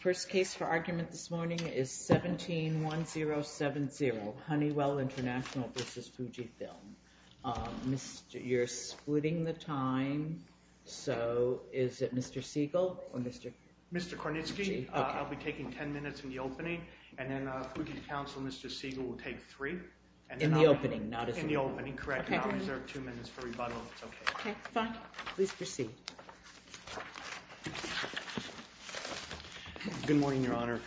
First case for argument this morning is 17-1070, Honeywell International v. FujiFilm. You're splitting the time, so is it Mr. Siegel? Mr. Kornitsky, I'll be taking ten minutes in the opening, and then Fuji's counsel, Mr. Siegel, will take three. In the opening, not as a rebuttal. In the opening, correct, and I'll reserve two minutes for rebuttal, if that's okay. Okay, fine. Please proceed. Good morning, Your Honor.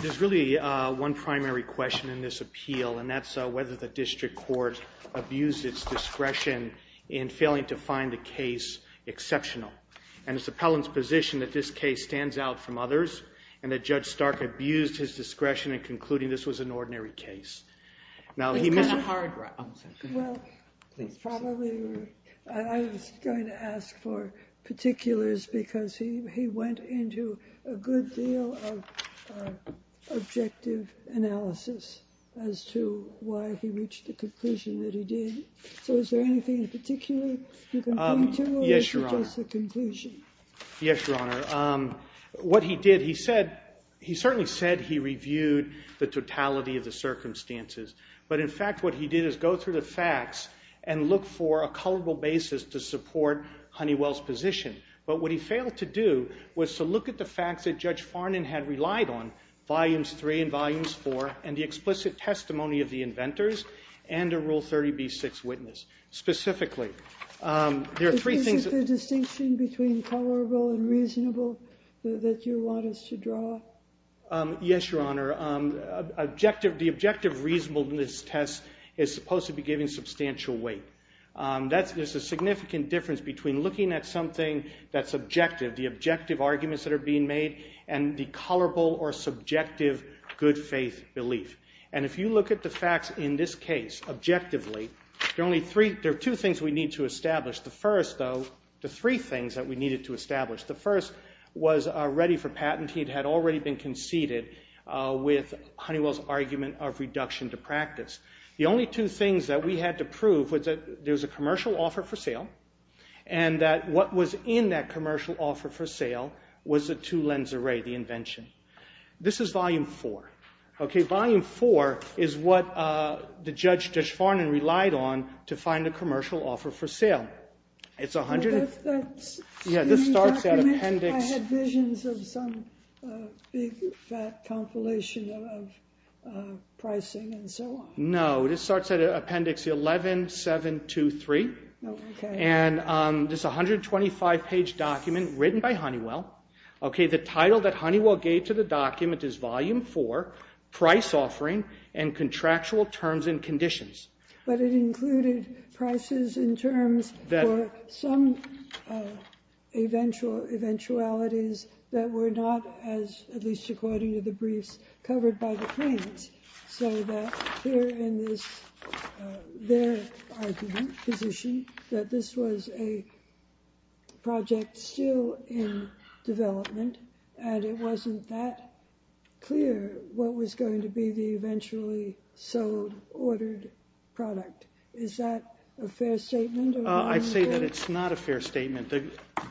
There's really one primary question in this appeal, and that's whether the district court abused its discretion in failing to find the case exceptional. And it's the appellant's position that this case stands out from others, and that Judge Stark abused his discretion in concluding this was an ordinary case. Well, I was going to ask for particulars, because he went into a good deal of objective analysis as to why he reached the conclusion that he did. So is there anything in particular you can point to, or is it just a conclusion? Yes, Your Honor. What he did, he said, he certainly said he reviewed the totality of the circumstances, but in fact what he did is go through the facts and look for a culpable basis to support Honeywell's position. But what he failed to do was to look at the facts that Judge Farnan had relied on, Volumes 3 and Volumes 4, and the explicit testimony of the inventors and a Rule 30b-6 witness. Is this the distinction between culpable and reasonable that you want us to draw? Yes, Your Honor. The objective reasonableness test is supposed to be giving substantial weight. There's a significant difference between looking at something that's objective, the objective arguments that are being made, and the culpable or subjective good faith belief. And if you look at the facts in this case objectively, there are two things we need to establish. The first, though, the three things that we needed to establish. The first was ready for patent. He had already been conceded with Honeywell's argument of reduction to practice. The only two things that we had to prove was that there was a commercial offer for sale, and that what was in that commercial offer for sale was a two-lens array, the invention. This is Volume 4. Okay, Volume 4 is what the Judge Deshfarnon relied on to find a commercial offer for sale. It's a hundred and- That's- Yeah, this starts at Appendix- I had visions of some big fat compilation of pricing and so on. No, this starts at Appendix 11723. Oh, okay. And this is a 125-page document written by Honeywell. Okay, the title that Honeywell gave to the document is Volume 4, Price Offering and Contractual Terms and Conditions. But it included prices in terms for some eventualities that were not, at least according to the briefs covered by the claims, so that here in their argument, position, that this was a project still in development and it wasn't that clear what was going to be the eventually sold, ordered product. Is that a fair statement? I'd say that it's not a fair statement. The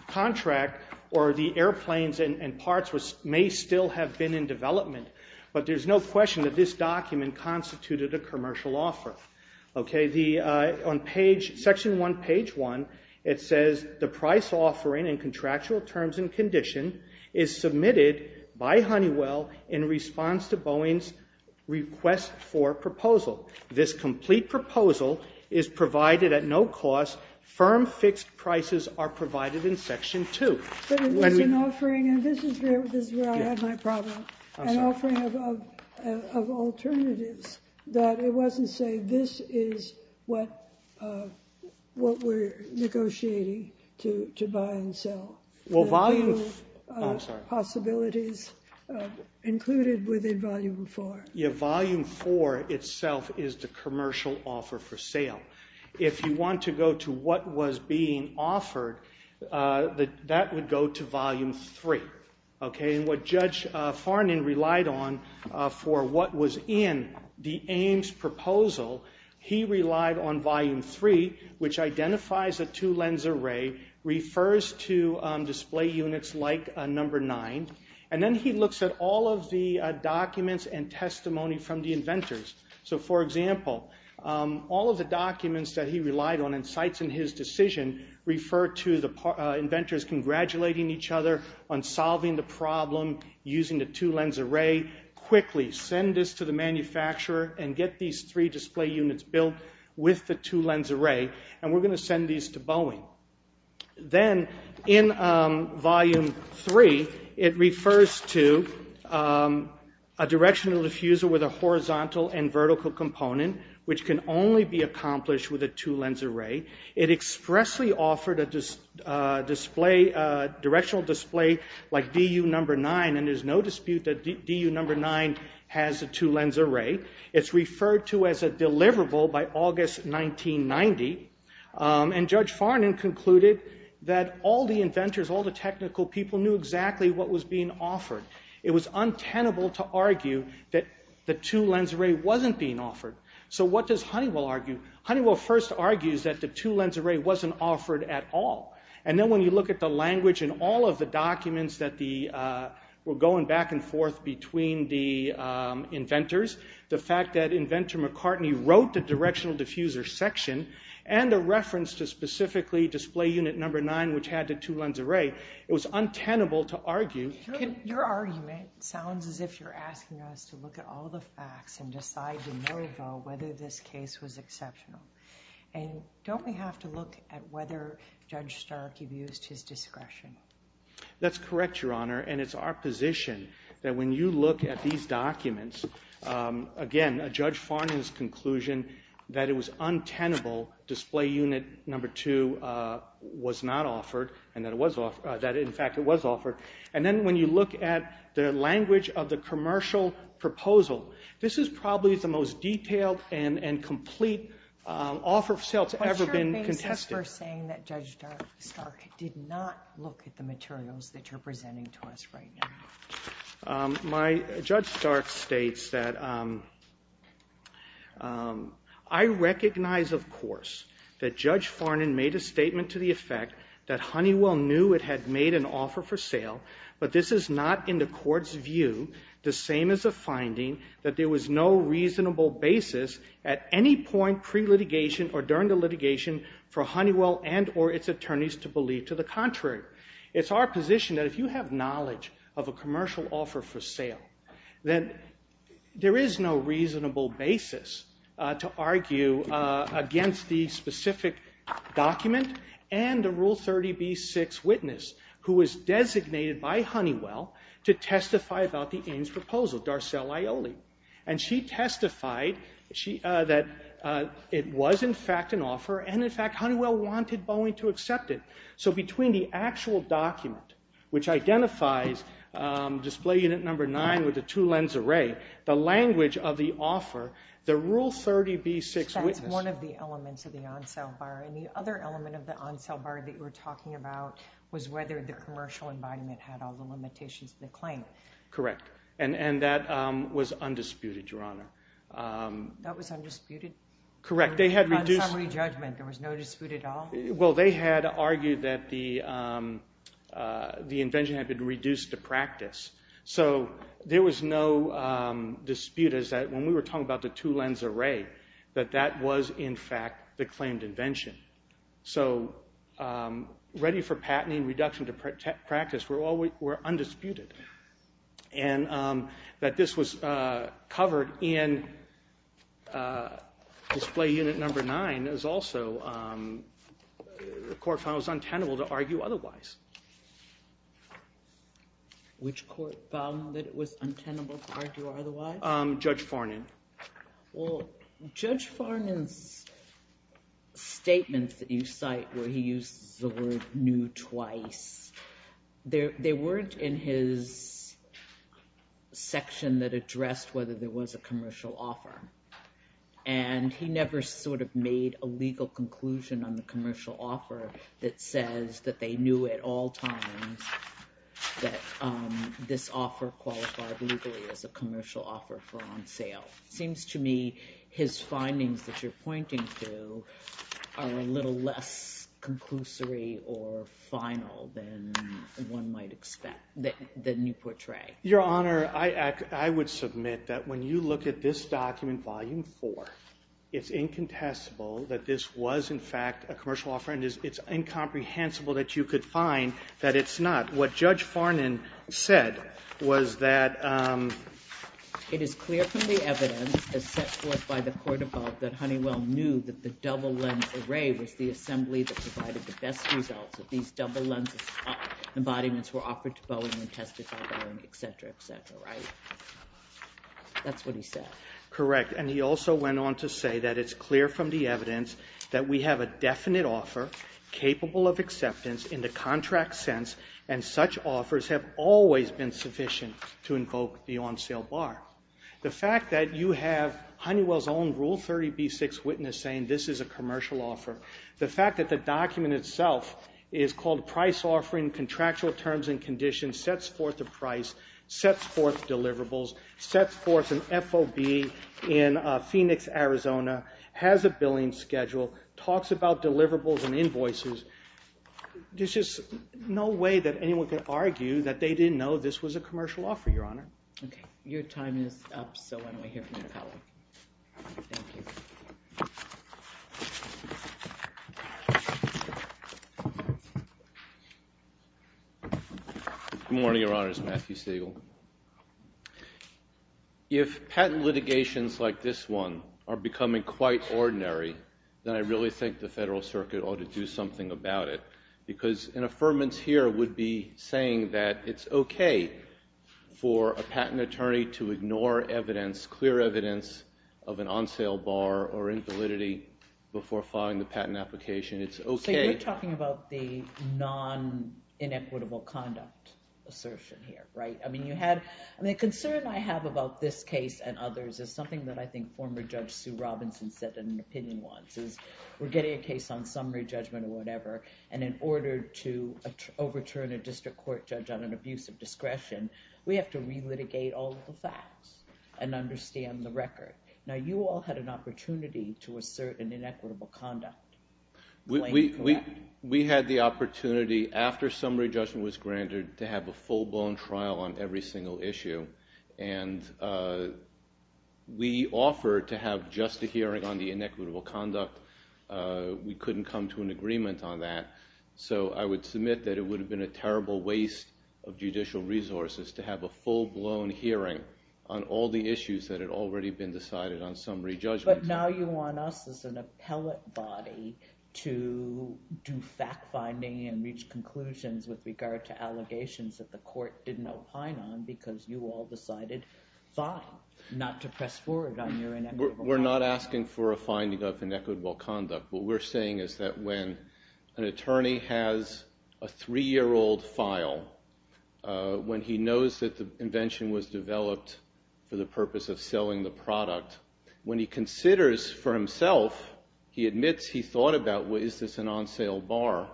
contract or the airplanes and parts may still have been in development, but there's no question that this document constituted a commercial offer. Okay, on Section 1, Page 1, it says, The price offering and contractual terms and condition is submitted by Honeywell in response to Boeing's request for proposal. This complete proposal is provided at no cost. Firm fixed prices are provided in Section 2. But it was an offering, and this is where I had my problem. I'm sorry. An offering of alternatives that it wasn't saying this is what we're negotiating to buy and sell. Well, Volume 4. Possibilities included within Volume 4. Yeah, Volume 4 itself is the commercial offer for sale. If you want to go to what was being offered, that would go to Volume 3. What Judge Farnon relied on for what was in the Ames proposal, he relied on Volume 3, which identifies a two-lens array, refers to display units like Number 9, and then he looks at all of the documents and testimony from the inventors. For example, all of the documents that he relied on and cites in his decision refer to the inventors congratulating each other on solving the problem using the two-lens array. Quickly send this to the manufacturer and get these three display units built with the two-lens array, and we're going to send these to Boeing. Then in Volume 3, it refers to a directional diffuser with a horizontal and vertical component, which can only be accomplished with a two-lens array. It expressly offered a directional display like DU Number 9, and there's no dispute that DU Number 9 has a two-lens array. It's referred to as a deliverable by August 1990, and Judge Farnon concluded that all the inventors, all the technical people, knew exactly what was being offered. It was untenable to argue that the two-lens array wasn't being offered. So what does Honeywell argue? Honeywell first argues that the two-lens array wasn't offered at all. And then when you look at the language in all of the documents that were going back and forth between the inventors, the fact that inventor McCartney wrote the directional diffuser section and the reference to specifically display unit number 9, which had the two-lens array, it was untenable to argue. Your argument sounds as if you're asking us to look at all the facts and decide to no-go whether this case was exceptional. And don't we have to look at whether Judge Stark abused his discretion? That's correct, Your Honor, and it's our position that when you look at these documents, again, Judge Farnon's conclusion that it was untenable, display unit number 2 was not offered and that, in fact, it was offered. And then when you look at the language of the commercial proposal, this is probably the most detailed and complete offer of sale that's ever been contested. What's your basis for saying that Judge Stark did not look at the materials that you're presenting to us right now? My Judge Stark states that, I recognize, of course, that Judge Farnon made a statement to the effect that Honeywell knew it had made an offer for sale, but this is not, in the Court's view, the same as a finding that there was no reasonable basis at any point pre-litigation or during the litigation for Honeywell and or its attorneys to believe to the contrary. It's our position that if you have knowledge of a commercial offer for sale, then there is no reasonable basis to argue against the specific document and the Rule 30b-6 witness who was designated by Honeywell to testify about the Inn's proposal, Darcelle Aioli. And she testified that it was, in fact, an offer and, in fact, Honeywell wanted Boeing to accept it. So between the actual document, which identifies display unit number 9 with the two lens array, the language of the offer, the Rule 30b-6 witness... And the other element of the on-sell bar that you were talking about was whether the commercial embodiment had all the limitations of the claim. Correct. And that was undisputed, Your Honor. That was undisputed? Correct. They had reduced... On summary judgment, there was no dispute at all? Well, they had argued that the invention had been reduced to practice. So there was no dispute as that when we were talking about the two lens array, that that was, in fact, the claimed invention. So ready for patenting, reduction to practice were undisputed. And that this was covered in display unit number 9 is also the court found it was untenable to argue otherwise. Which court found that it was untenable to argue otherwise? Judge Fornan. Well, Judge Fornan's statements that you cite where he uses the word knew twice, they weren't in his section that addressed whether there was a commercial offer. And he never sort of made a legal conclusion on the commercial offer that says that they knew at all times that this offer qualified legally as a commercial offer for on sale. It seems to me his findings that you're pointing to are a little less conclusory or final than one might expect, than you portray. Your Honor, I would submit that when you look at this document, Volume 4, it's incontestable that this was, in fact, a commercial offer. And it's incomprehensible that you could find that it's not. What Judge Fornan said was that... It is clear from the evidence as set forth by the court above that Honeywell knew that the double lens array was the assembly that provided the best results. That these double lens embodiments were offered to Boeing and testified by Boeing, etc., etc., right? That's what he said. Correct. And he also went on to say that it's clear from the evidence that we have a definite offer capable of acceptance in the contract sense and such offers have always been sufficient to invoke the on-sale bar. The fact that you have Honeywell's own Rule 30b-6 witness saying this is a commercial offer, the fact that the document itself is called Price Offering Contractual Terms and Conditions, sets forth a price, sets forth deliverables, sets forth an FOB in Phoenix, Arizona, has a billing schedule, talks about deliverables and invoices. There's just no way that anyone could argue that they didn't know this was a commercial offer, Your Honor. Okay. Your time is up, so I'm going to hear from your colleague. Thank you. Good morning, Your Honors. Matthew Siegel. If patent litigations like this one are becoming quite ordinary, then I really think the Federal Circuit ought to do something about it because an affirmance here would be saying that it's okay for a patent attorney to ignore evidence, clear evidence of an on-sale bar or invalidity before filing the patent application. It's okay. So you're talking about the non-inequitable conduct assertion here, right? The concern I have about this case and others is something that I think former Judge Sue Robinson said in an opinion once, is we're getting a case on summary judgment or whatever, and in order to overturn a district court judge on an abuse of discretion, we have to relitigate all of the facts and understand the record. Now, you all had an opportunity to assert an inequitable conduct. We had the opportunity after summary judgment was granted to have a full-blown trial on every single issue, and we offered to have just a hearing on the inequitable conduct. We couldn't come to an agreement on that. So I would submit that it would have been a terrible waste of judicial resources to have a full-blown hearing on all the issues that had already been decided on summary judgment. But now you want us as an appellate body to do fact-finding and reach conclusions with regard to allegations that the court didn't opine on because you all decided not to press forward on your inequitable conduct. We're not asking for a finding of inequitable conduct. What we're saying is that when an attorney has a three-year-old file, when he knows that the invention was developed for the purpose of selling the product, when he considers for himself, he admits he thought about, well, is this an on-sale bar,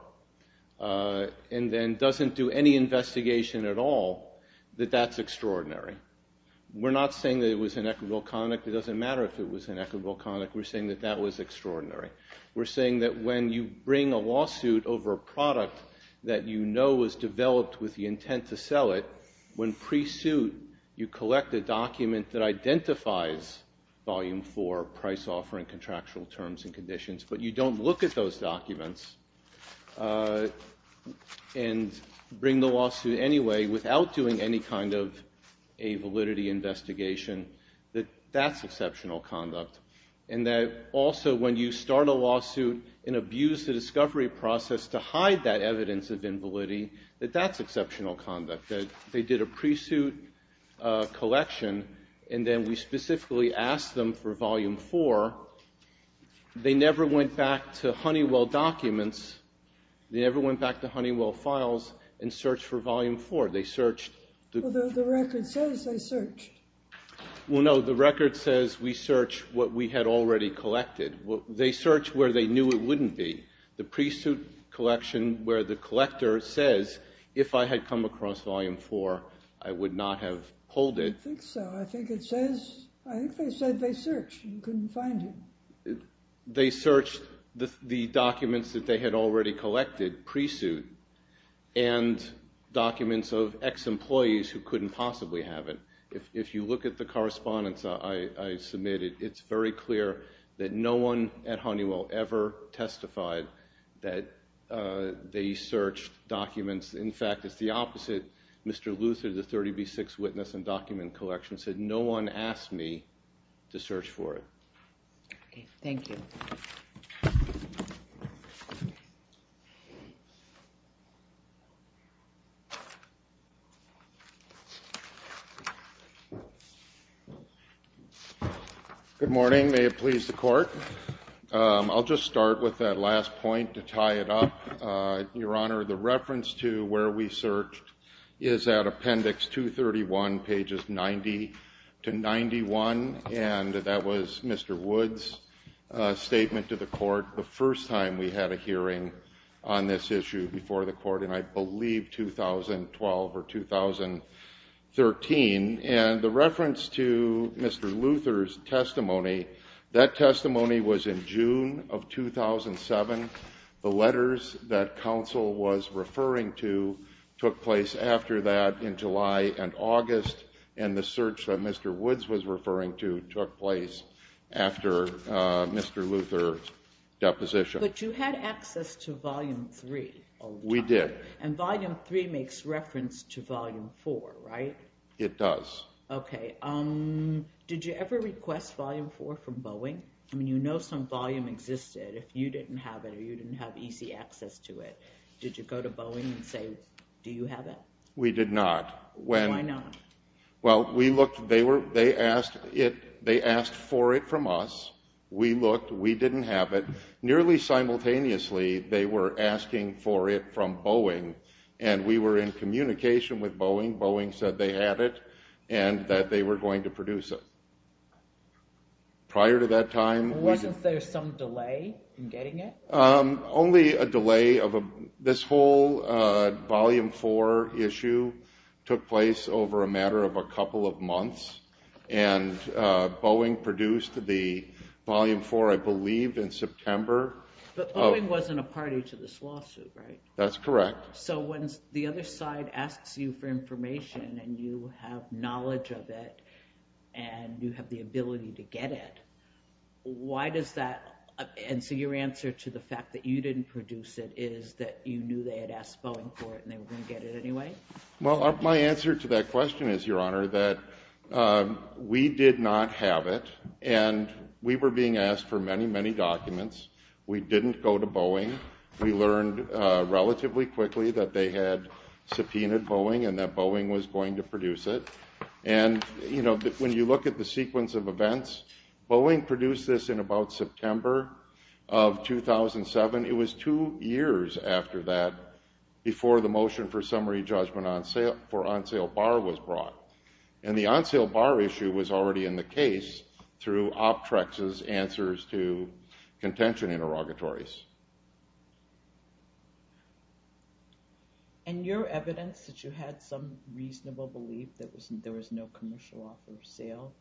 and then doesn't do any investigation at all, that that's extraordinary. We're not saying that it was inequitable conduct. It doesn't matter if it was inequitable conduct. We're saying that that was extraordinary. We're saying that when you bring a lawsuit over a product that you know was developed with the intent to sell it, when pre-suit you collect a document that identifies volume 4, price offering, contractual terms and conditions, but you don't look at those documents and bring the lawsuit anyway without doing any kind of a validity investigation, that that's exceptional conduct. And that also when you start a lawsuit and abuse the discovery process to hide that evidence of invalidity, that that's exceptional conduct. They did a pre-suit collection, and then we specifically asked them for volume 4. They never went back to Honeywell documents. They never went back to Honeywell files and searched for volume 4. They searched. Well, the record says they searched. Well, no, the record says we searched what we had already collected. They searched where they knew it wouldn't be, the pre-suit collection, where the collector says if I had come across volume 4, I would not have pulled it. I think so. I think it says, I think they said they searched and couldn't find him. They searched the documents that they had already collected pre-suit and documents of ex-employees who couldn't possibly have it. If you look at the correspondence I submitted, it's very clear that no one at Honeywell ever testified that they searched documents. In fact, it's the opposite. Mr. Luther, the 30B6 witness and document collection, said no one asked me to search for it. Thank you. Good morning. May it please the Court. I'll just start with that last point to tie it up. Your Honor, the reference to where we searched is at Appendix 231, pages 90 to 91, and that was Mr. Woods' statement to the Court the first time we had a hearing on this issue before the Court in, I believe, 2012 or 2013. And the reference to Mr. Luther's testimony, that testimony was in June of 2007. The letters that counsel was referring to took place after that in July and August, and the search that Mr. Woods was referring to took place after Mr. Luther's deposition. But you had access to Volume 3 all the time. We did. And Volume 3 makes reference to Volume 4, right? It does. Okay. Did you ever request Volume 4 from Boeing? I mean, you know some volume existed if you didn't have it or you didn't have easy access to it. Did you go to Boeing and say, do you have it? We did not. Why not? Well, we looked. They asked for it from us. We looked. We didn't have it. Nearly simultaneously, they were asking for it from Boeing, and we were in communication with Boeing. Boeing said they had it and that they were going to produce it. Prior to that time, we didn't. Wasn't there some delay in getting it? Only a delay. This whole Volume 4 issue took place over a matter of a couple of months, and Boeing produced the Volume 4, I believe, in September. But Boeing wasn't a party to this lawsuit, right? That's correct. So when the other side asks you for information and you have knowledge of it and you have the ability to get it, why does that? And so your answer to the fact that you didn't produce it is that you knew they had asked Boeing for it and they were going to get it anyway? Well, my answer to that question is, Your Honor, that we did not have it, and we were being asked for many, many documents. We didn't go to Boeing. We learned relatively quickly that they had subpoenaed Boeing and that Boeing was going to produce it. When you look at the sequence of events, Boeing produced this in about September of 2007. It was two years after that before the motion for summary judgment for on-sale bar was brought. And the on-sale bar issue was already in the case through OPTREX's answers to contention interrogatories. And your evidence that you had some reasonable belief that there was no commercial offer for sale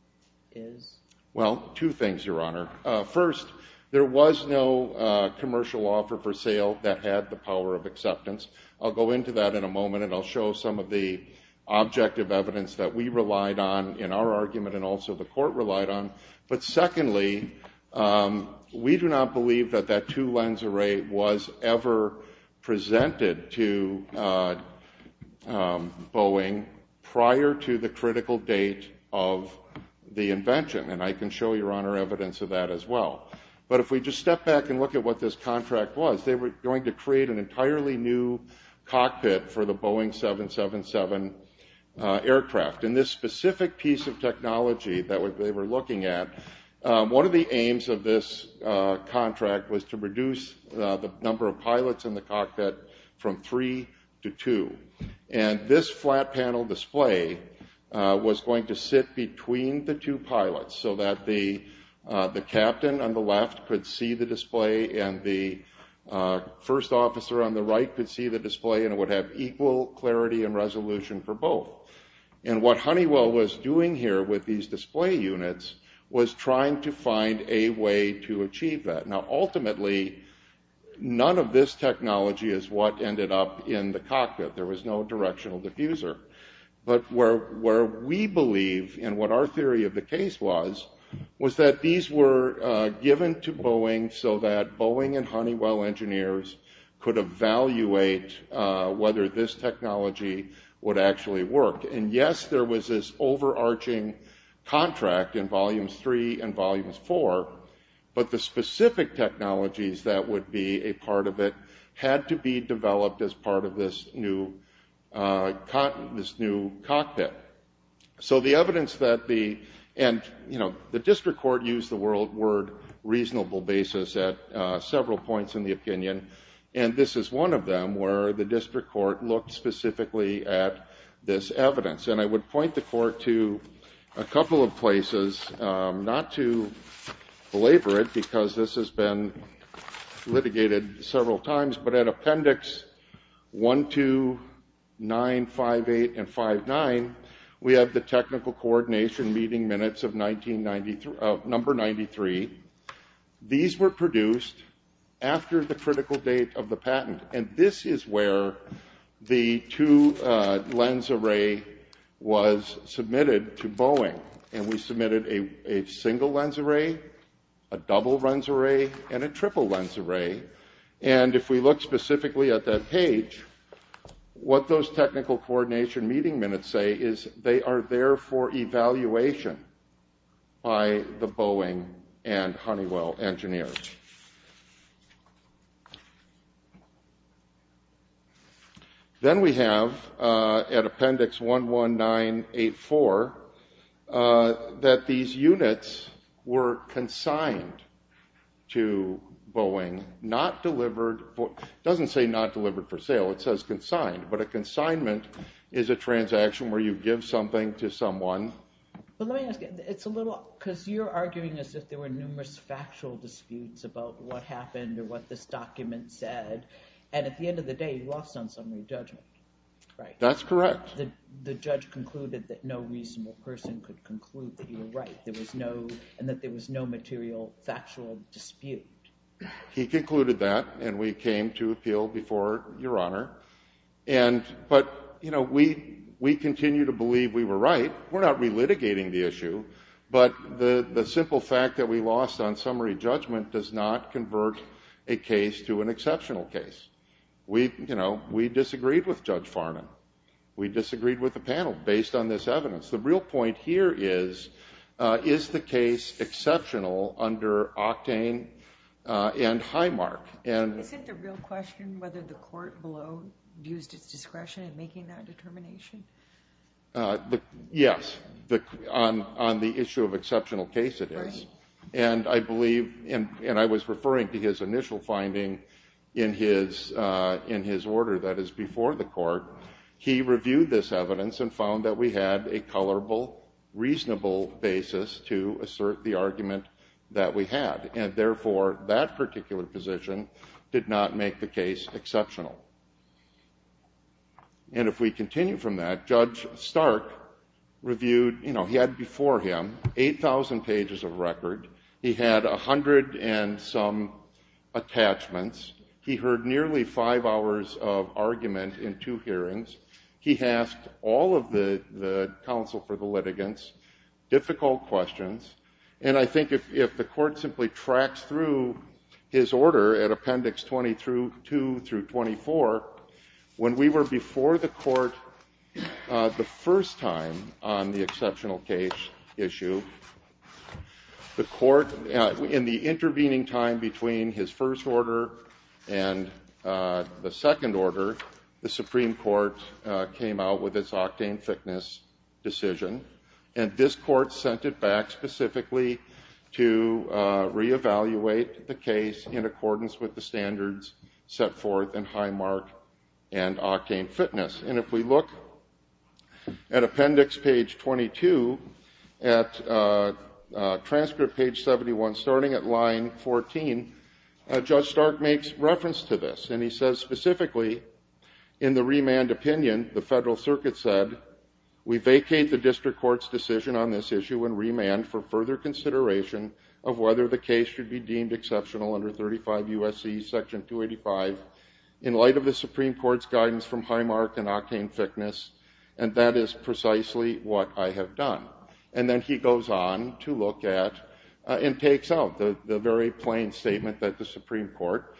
is? Well, two things, Your Honor. First, there was no commercial offer for sale that had the power of acceptance. I'll go into that in a moment, and I'll show some of the objective evidence that we relied on in our argument and also the court relied on. But secondly, we do not believe that that two-lens array was ever presented to Boeing prior to the critical date of the invention. And I can show you, Your Honor, evidence of that as well. But if we just step back and look at what this contract was, they were going to create an entirely new cockpit for the Boeing 777 aircraft. And this specific piece of technology that they were looking at, one of the aims of this contract was to reduce the number of pilots in the cockpit from three to two. And this flat panel display was going to sit between the two pilots so that the captain on the left could see the display and the first officer on the right could see the display and it would have equal clarity and resolution for both. And what Honeywell was doing here with these display units was trying to find a way to achieve that. Now ultimately, none of this technology is what ended up in the cockpit. There was no directional diffuser. But where we believe, and what our theory of the case was, was that these were given to Boeing so that Boeing and Honeywell engineers could evaluate whether this technology would actually work. And yes, there was this overarching contract in Volumes 3 and Volumes 4, but the specific technologies that would be a part of it had to be developed as part of this new cockpit. So the evidence that the, and the district court used the word reasonable basis at several points in the opinion, and this is one of them where the district court looked specifically at this evidence. And I would point the court to a couple of places, not to belabor it because this has been litigated several times, but at Appendix 1, 2, 9, 5, 8, and 5, 9, we have the technical coordination meeting minutes of number 93. These were produced after the critical date of the patent. And this is where the two lens array was submitted to Boeing. And we submitted a single lens array, a double lens array, and a triple lens array. And if we look specifically at that page, what those technical coordination meeting minutes say is they are there for evaluation by the Boeing and Honeywell engineers. Then we have at Appendix 1, 1, 9, 8, 4, that these units were consigned to Boeing, not delivered, doesn't say not delivered for sale, it says consigned, but a consignment is a transaction where you give something to someone. But let me ask you, it's a little, because you're arguing as if there were numerous factual disputes about what happened or what this document said, and at the end of the day, you lost on summary judgment, right? That's correct. The judge concluded that no reasonable person could conclude that you were right, and that there was no material factual dispute. He concluded that, and we came to appeal before Your Honor. But, you know, we continue to believe we were right. We're not relitigating the issue. But the simple fact that we lost on summary judgment does not convert a case to an exceptional case. You know, we disagreed with Judge Farnan. We disagreed with the panel based on this evidence. The real point here is, is the case exceptional under Octane and Highmark? Is it the real question whether the court below used its discretion in making that determination? Yes, on the issue of exceptional case it is. And I believe, and I was referring to his initial finding in his order that is before the court. He reviewed this evidence and found that we had a colorable, reasonable basis to assert the argument that we had. And, therefore, that particular position did not make the case exceptional. And if we continue from that, Judge Stark reviewed, you know, he had before him 8,000 pages of record. He had a hundred and some attachments. He heard nearly five hours of argument in two hearings. He asked all of the counsel for the litigants difficult questions. And I think if the court simply tracks through his order at Appendix 20 through 2 through 24, when we were before the court the first time on the exceptional case issue, the court, in the intervening time between his first order and the second order, the Supreme Court came out with its Octane thickness decision. And this court sent it back specifically to reevaluate the case in accordance with the standards set forth in Highmark and Octane fitness. And if we look at Appendix page 22, at transcript page 71, starting at line 14, Judge Stark makes reference to this. And he says specifically, in the remand opinion, the federal circuit said, we vacate the district court's decision on this issue in remand for further consideration of whether the case should be deemed exceptional under 35 U.S.C. Section 285 in light of the Supreme Court's guidance from Highmark and Octane thickness. And that is precisely what I have done. And then he goes on to look at and takes out the very plain statement that the Supreme Court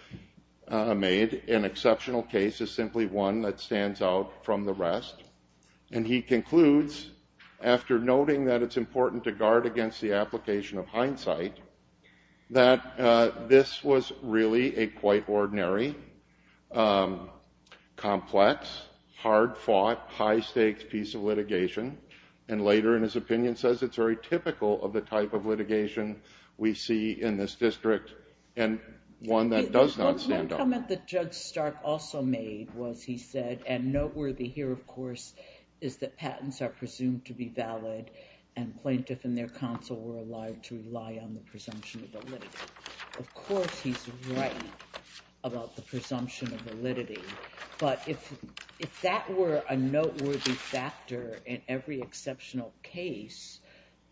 made. An exceptional case is simply one that stands out from the rest. And he concludes, after noting that it's important to guard against the application of hindsight, that this was really a quite ordinary, complex, hard-fought, high-stakes piece of litigation. And later, in his opinion, says it's very typical of the type of litigation we see in this district and one that does not stand out. One comment that Judge Stark also made was he said, and noteworthy here, of course, is that patents are presumed to be valid and plaintiff and their counsel were allowed to rely on the presumption of validity. Of course, he's right about the presumption of validity. But if that were a noteworthy factor in every exceptional case,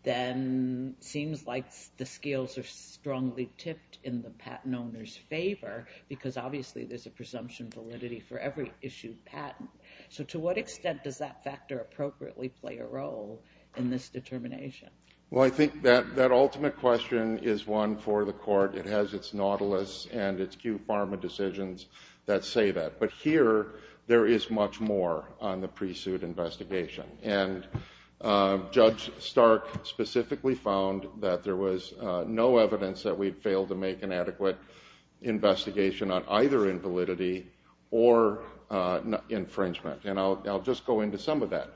then it seems like the scales are strongly tipped in the patent owner's favor because, obviously, there's a presumption of validity for every issued patent. So to what extent does that factor appropriately play a role in this determination? Well, I think that ultimate question is one for the court. It has its nautilus and its cue pharma decisions that say that. But here, there is much more on the pre-suit investigation. And Judge Stark specifically found that there was no evidence that we'd failed to make an adequate investigation on either invalidity or infringement. And I'll just go into some of that.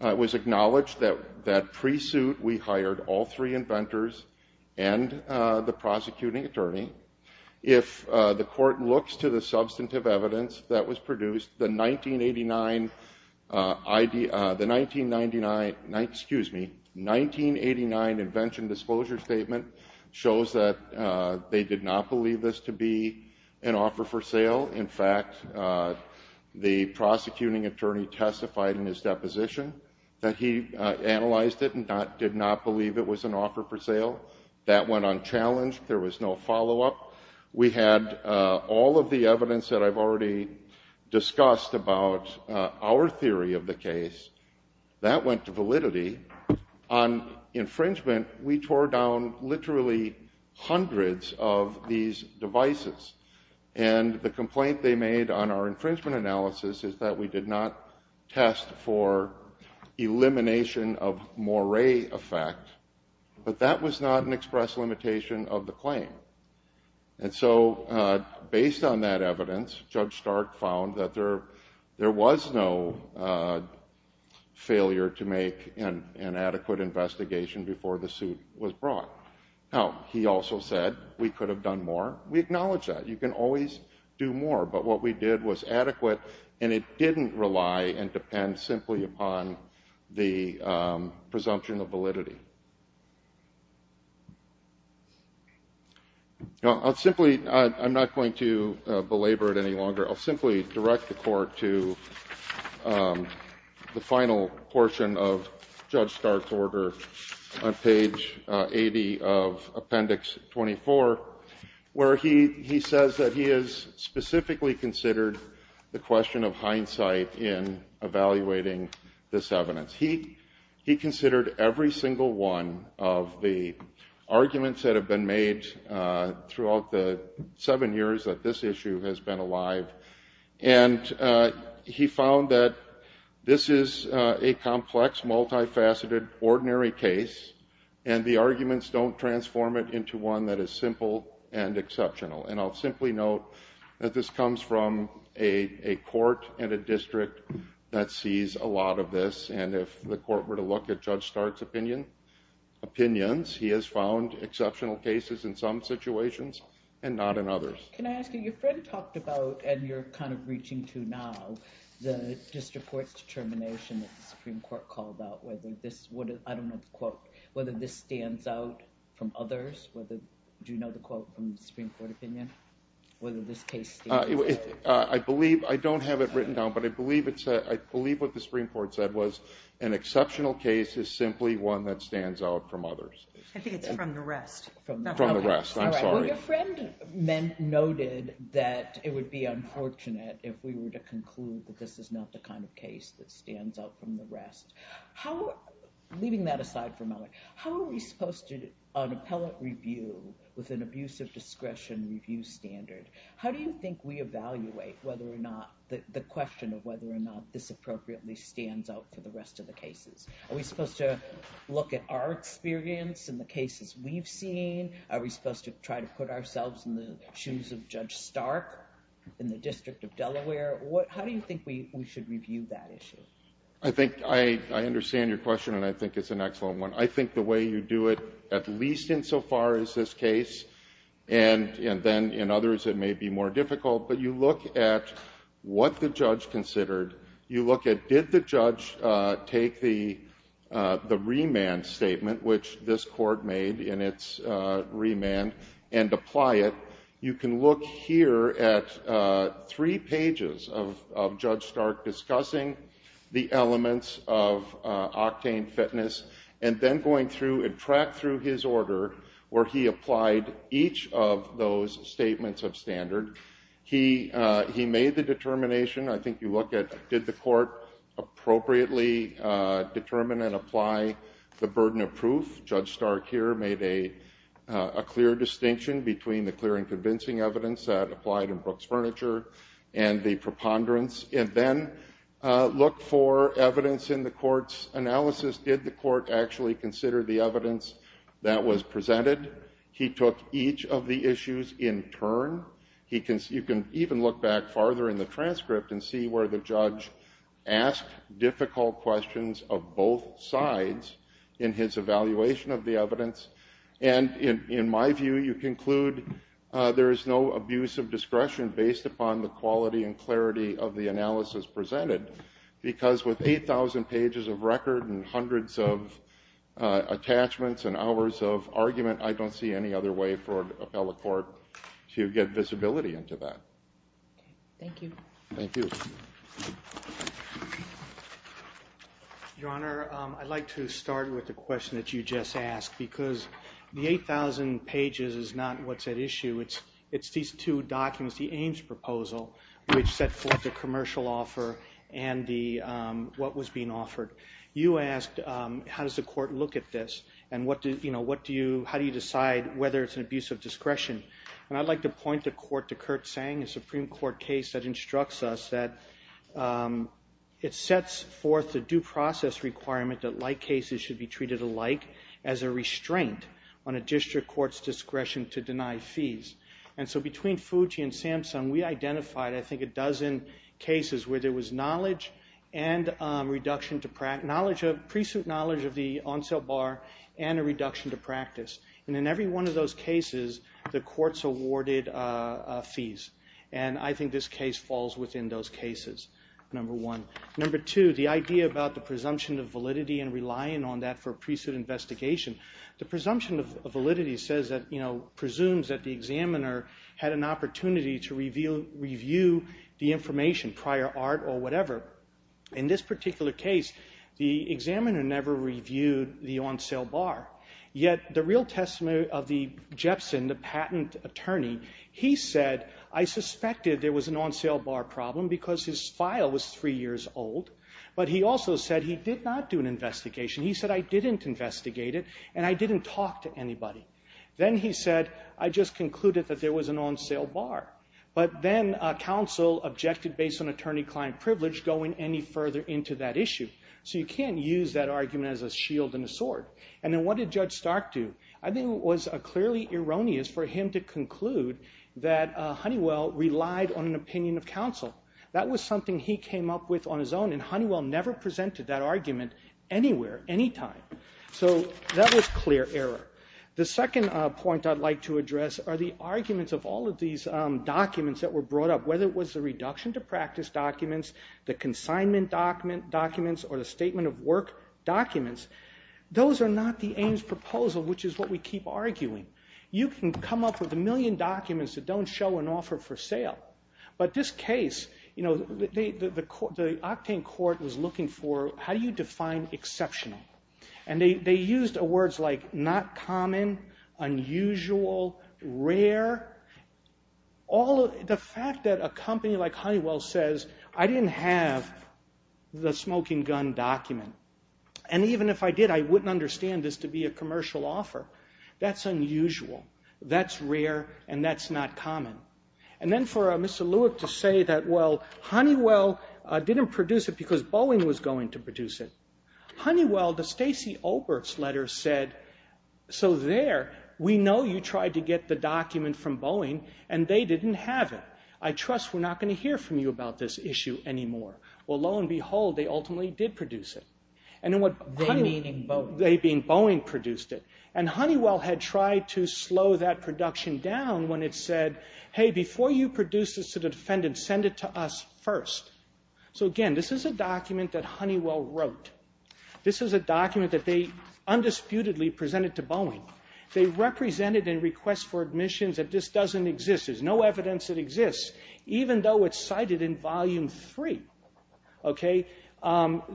It was acknowledged that pre-suit we hired all three inventors and the prosecuting attorney. If the court looks to the substantive evidence that was produced, the 1989 invention disclosure statement shows that they did not believe this to be an offer for sale. In fact, the prosecuting attorney testified in his deposition that he analyzed it and did not believe it was an offer for sale. That went unchallenged. There was no follow-up. We had all of the evidence that I've already discussed about our theory of the case. That went to validity. On infringement, we tore down literally hundreds of these devices. And the complaint they made on our infringement analysis is that we did not test for elimination of moiré effect, but that was not an express limitation of the claim. And so based on that evidence, Judge Stark found that there was no failure to make an adequate investigation before the suit was brought. Now, he also said we could have done more. We acknowledge that. You can always do more. But what we did was adequate, and it didn't rely and depend simply upon the presumption of validity. Now, I'll simply — I'm not going to belabor it any longer. I'll simply direct the Court to the final portion of Judge Stark's order on page 80 of hindsight in evaluating this evidence. He considered every single one of the arguments that have been made throughout the seven years that this issue has been alive, and he found that this is a complex, multifaceted, ordinary case, and the arguments don't transform it into one that is simple and exceptional. And I'll simply note that this comes from a court and a district that sees a lot of this, and if the Court were to look at Judge Stark's opinions, he has found exceptional cases in some situations and not in others. Can I ask you, your friend talked about, and you're kind of reaching to now, the district court's determination that the Supreme Court called out whether this — I don't know the quote — whether this stands out from others, whether — do you know the quote from the Supreme Court opinion? Whether this case — I believe — I don't have it written down, but I believe it's — I believe what the Supreme Court said was an exceptional case is simply one that stands out from others. I think it's from the rest. From the rest. I'm sorry. All right. Well, your friend noted that it would be unfortunate if we were to conclude that this is not the kind of case that stands out from the rest. How — leaving that aside for a moment — how are we supposed to, on appellate review, with an abuse of discretion review standard, how do you think we evaluate whether or not — the question of whether or not this appropriately stands out for the rest of the cases? Are we supposed to look at our experience in the cases we've seen? Are we supposed to try to put ourselves in the shoes of Judge Stark in the District of Delaware? How do you think we should review that issue? I think — I understand your question, and I think it's an excellent one. I think the way you do it, at least insofar as this case, and then in others it may be more difficult, but you look at what the judge considered. You look at did the judge take the — the remand statement, which this Court made in its remand, and apply it. You can look here at three pages of Judge Stark discussing the elements of octane fitness, and then going through and track through his order where he applied each of those statements of standard. He made the determination. I think you look at did the Court appropriately determine and apply the burden of proof. Judge Stark here made a clear distinction between the clear and convincing evidence that applied in Brooks Furniture and the preponderance. And then look for evidence in the Court's analysis. Did the Court actually consider the evidence that was presented? He took each of the issues in turn. You can even look back farther in the transcript and see where the judge asked difficult questions of both sides in his evaluation of the evidence. And in my view, you conclude there is no abuse of discretion based upon the quality and clarity of the analysis presented, because with 8,000 pages of record and hundreds of attachments and hours of argument, I don't see any other way for an appellate court to get visibility into that. Thank you. Thank you. Your Honor, I'd like to start with the question that you just asked. Because the 8,000 pages is not what's at issue. It's these two documents, the Ames proposal, which set forth the commercial offer and what was being offered. You asked, how does the Court look at this? And how do you decide whether it's an abuse of discretion? And I'd like to point the Court to Kurt Tsang, a Supreme Court case that instructs us that it sets forth the due process requirement that like cases should be treated alike as a restraint on a district court's discretion to deny fees. And so between Fuji and Samsung, we identified, I think, a dozen cases where there was pre-suit knowledge of the on-sale bar and a reduction to practice. And in every one of those cases, the courts awarded fees. And I think this case falls within those cases, number one. Number two, the idea about the presumption of validity and relying on that for a pre-suit investigation. The presumption of validity says that, you know, presumes that the examiner had an opportunity to review the information, prior art or whatever. In this particular case, the examiner never reviewed the on-sale bar. Yet the real testimony of the Jepson, the patent attorney, he said, I suspected there was an on-sale bar problem because his file was three years old. But he also said he did not do an investigation. He said, I didn't investigate it and I didn't talk to anybody. Then he said, I just concluded that there was an on-sale bar. But then counsel objected based on attorney-client privilege going any further into that issue. And then what did Judge Stark do? I think it was clearly erroneous for him to conclude that Honeywell relied on an opinion of counsel. That was something he came up with on his own, and Honeywell never presented that argument anywhere, anytime. So that was clear error. The second point I'd like to address are the arguments of all of these documents that were brought up, whether it was the reduction to practice documents, the consignment documents, or the statement of work documents, those are not the Ames proposal, which is what we keep arguing. You can come up with a million documents that don't show an offer for sale. But this case, the octane court was looking for how do you define exceptional? And they used words like not common, unusual, rare. The fact that a company like Honeywell says, I didn't have the smoking gun document, and even if I did, I wouldn't understand this to be a commercial offer, that's unusual, that's rare, and that's not common. And then for Mr. Lewick to say that, well, Honeywell didn't produce it because Boeing was going to produce it. Honeywell, the Stacey Olberts letter said, so there, we know you tried to get the document from Boeing, and they didn't have it. I trust we're not going to hear from you about this issue anymore. Well, lo and behold, they ultimately did produce it. They, meaning Boeing, produced it. And Honeywell had tried to slow that production down when it said, hey, before you produce this to the defendant, send it to us first. So, again, this is a document that Honeywell wrote. This is a document that they undisputedly presented to Boeing. They represented and request for admissions that this doesn't exist, there's no evidence it exists, even though it's cited in volume three. Okay?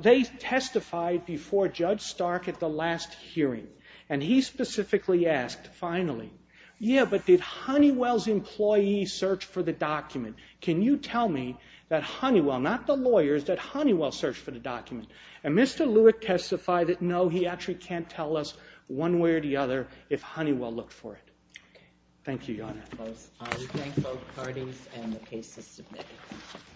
They testified before Judge Stark at the last hearing, and he specifically asked, finally, yeah, but did Honeywell's employees search for the document? Can you tell me that Honeywell, not the lawyers, that Honeywell searched for the document? And Mr. Lewick testified that, no, he actually can't tell us one way or the other if Honeywell looked for it. Okay. Thank you, Your Honor. We thank both parties and the case is submitted.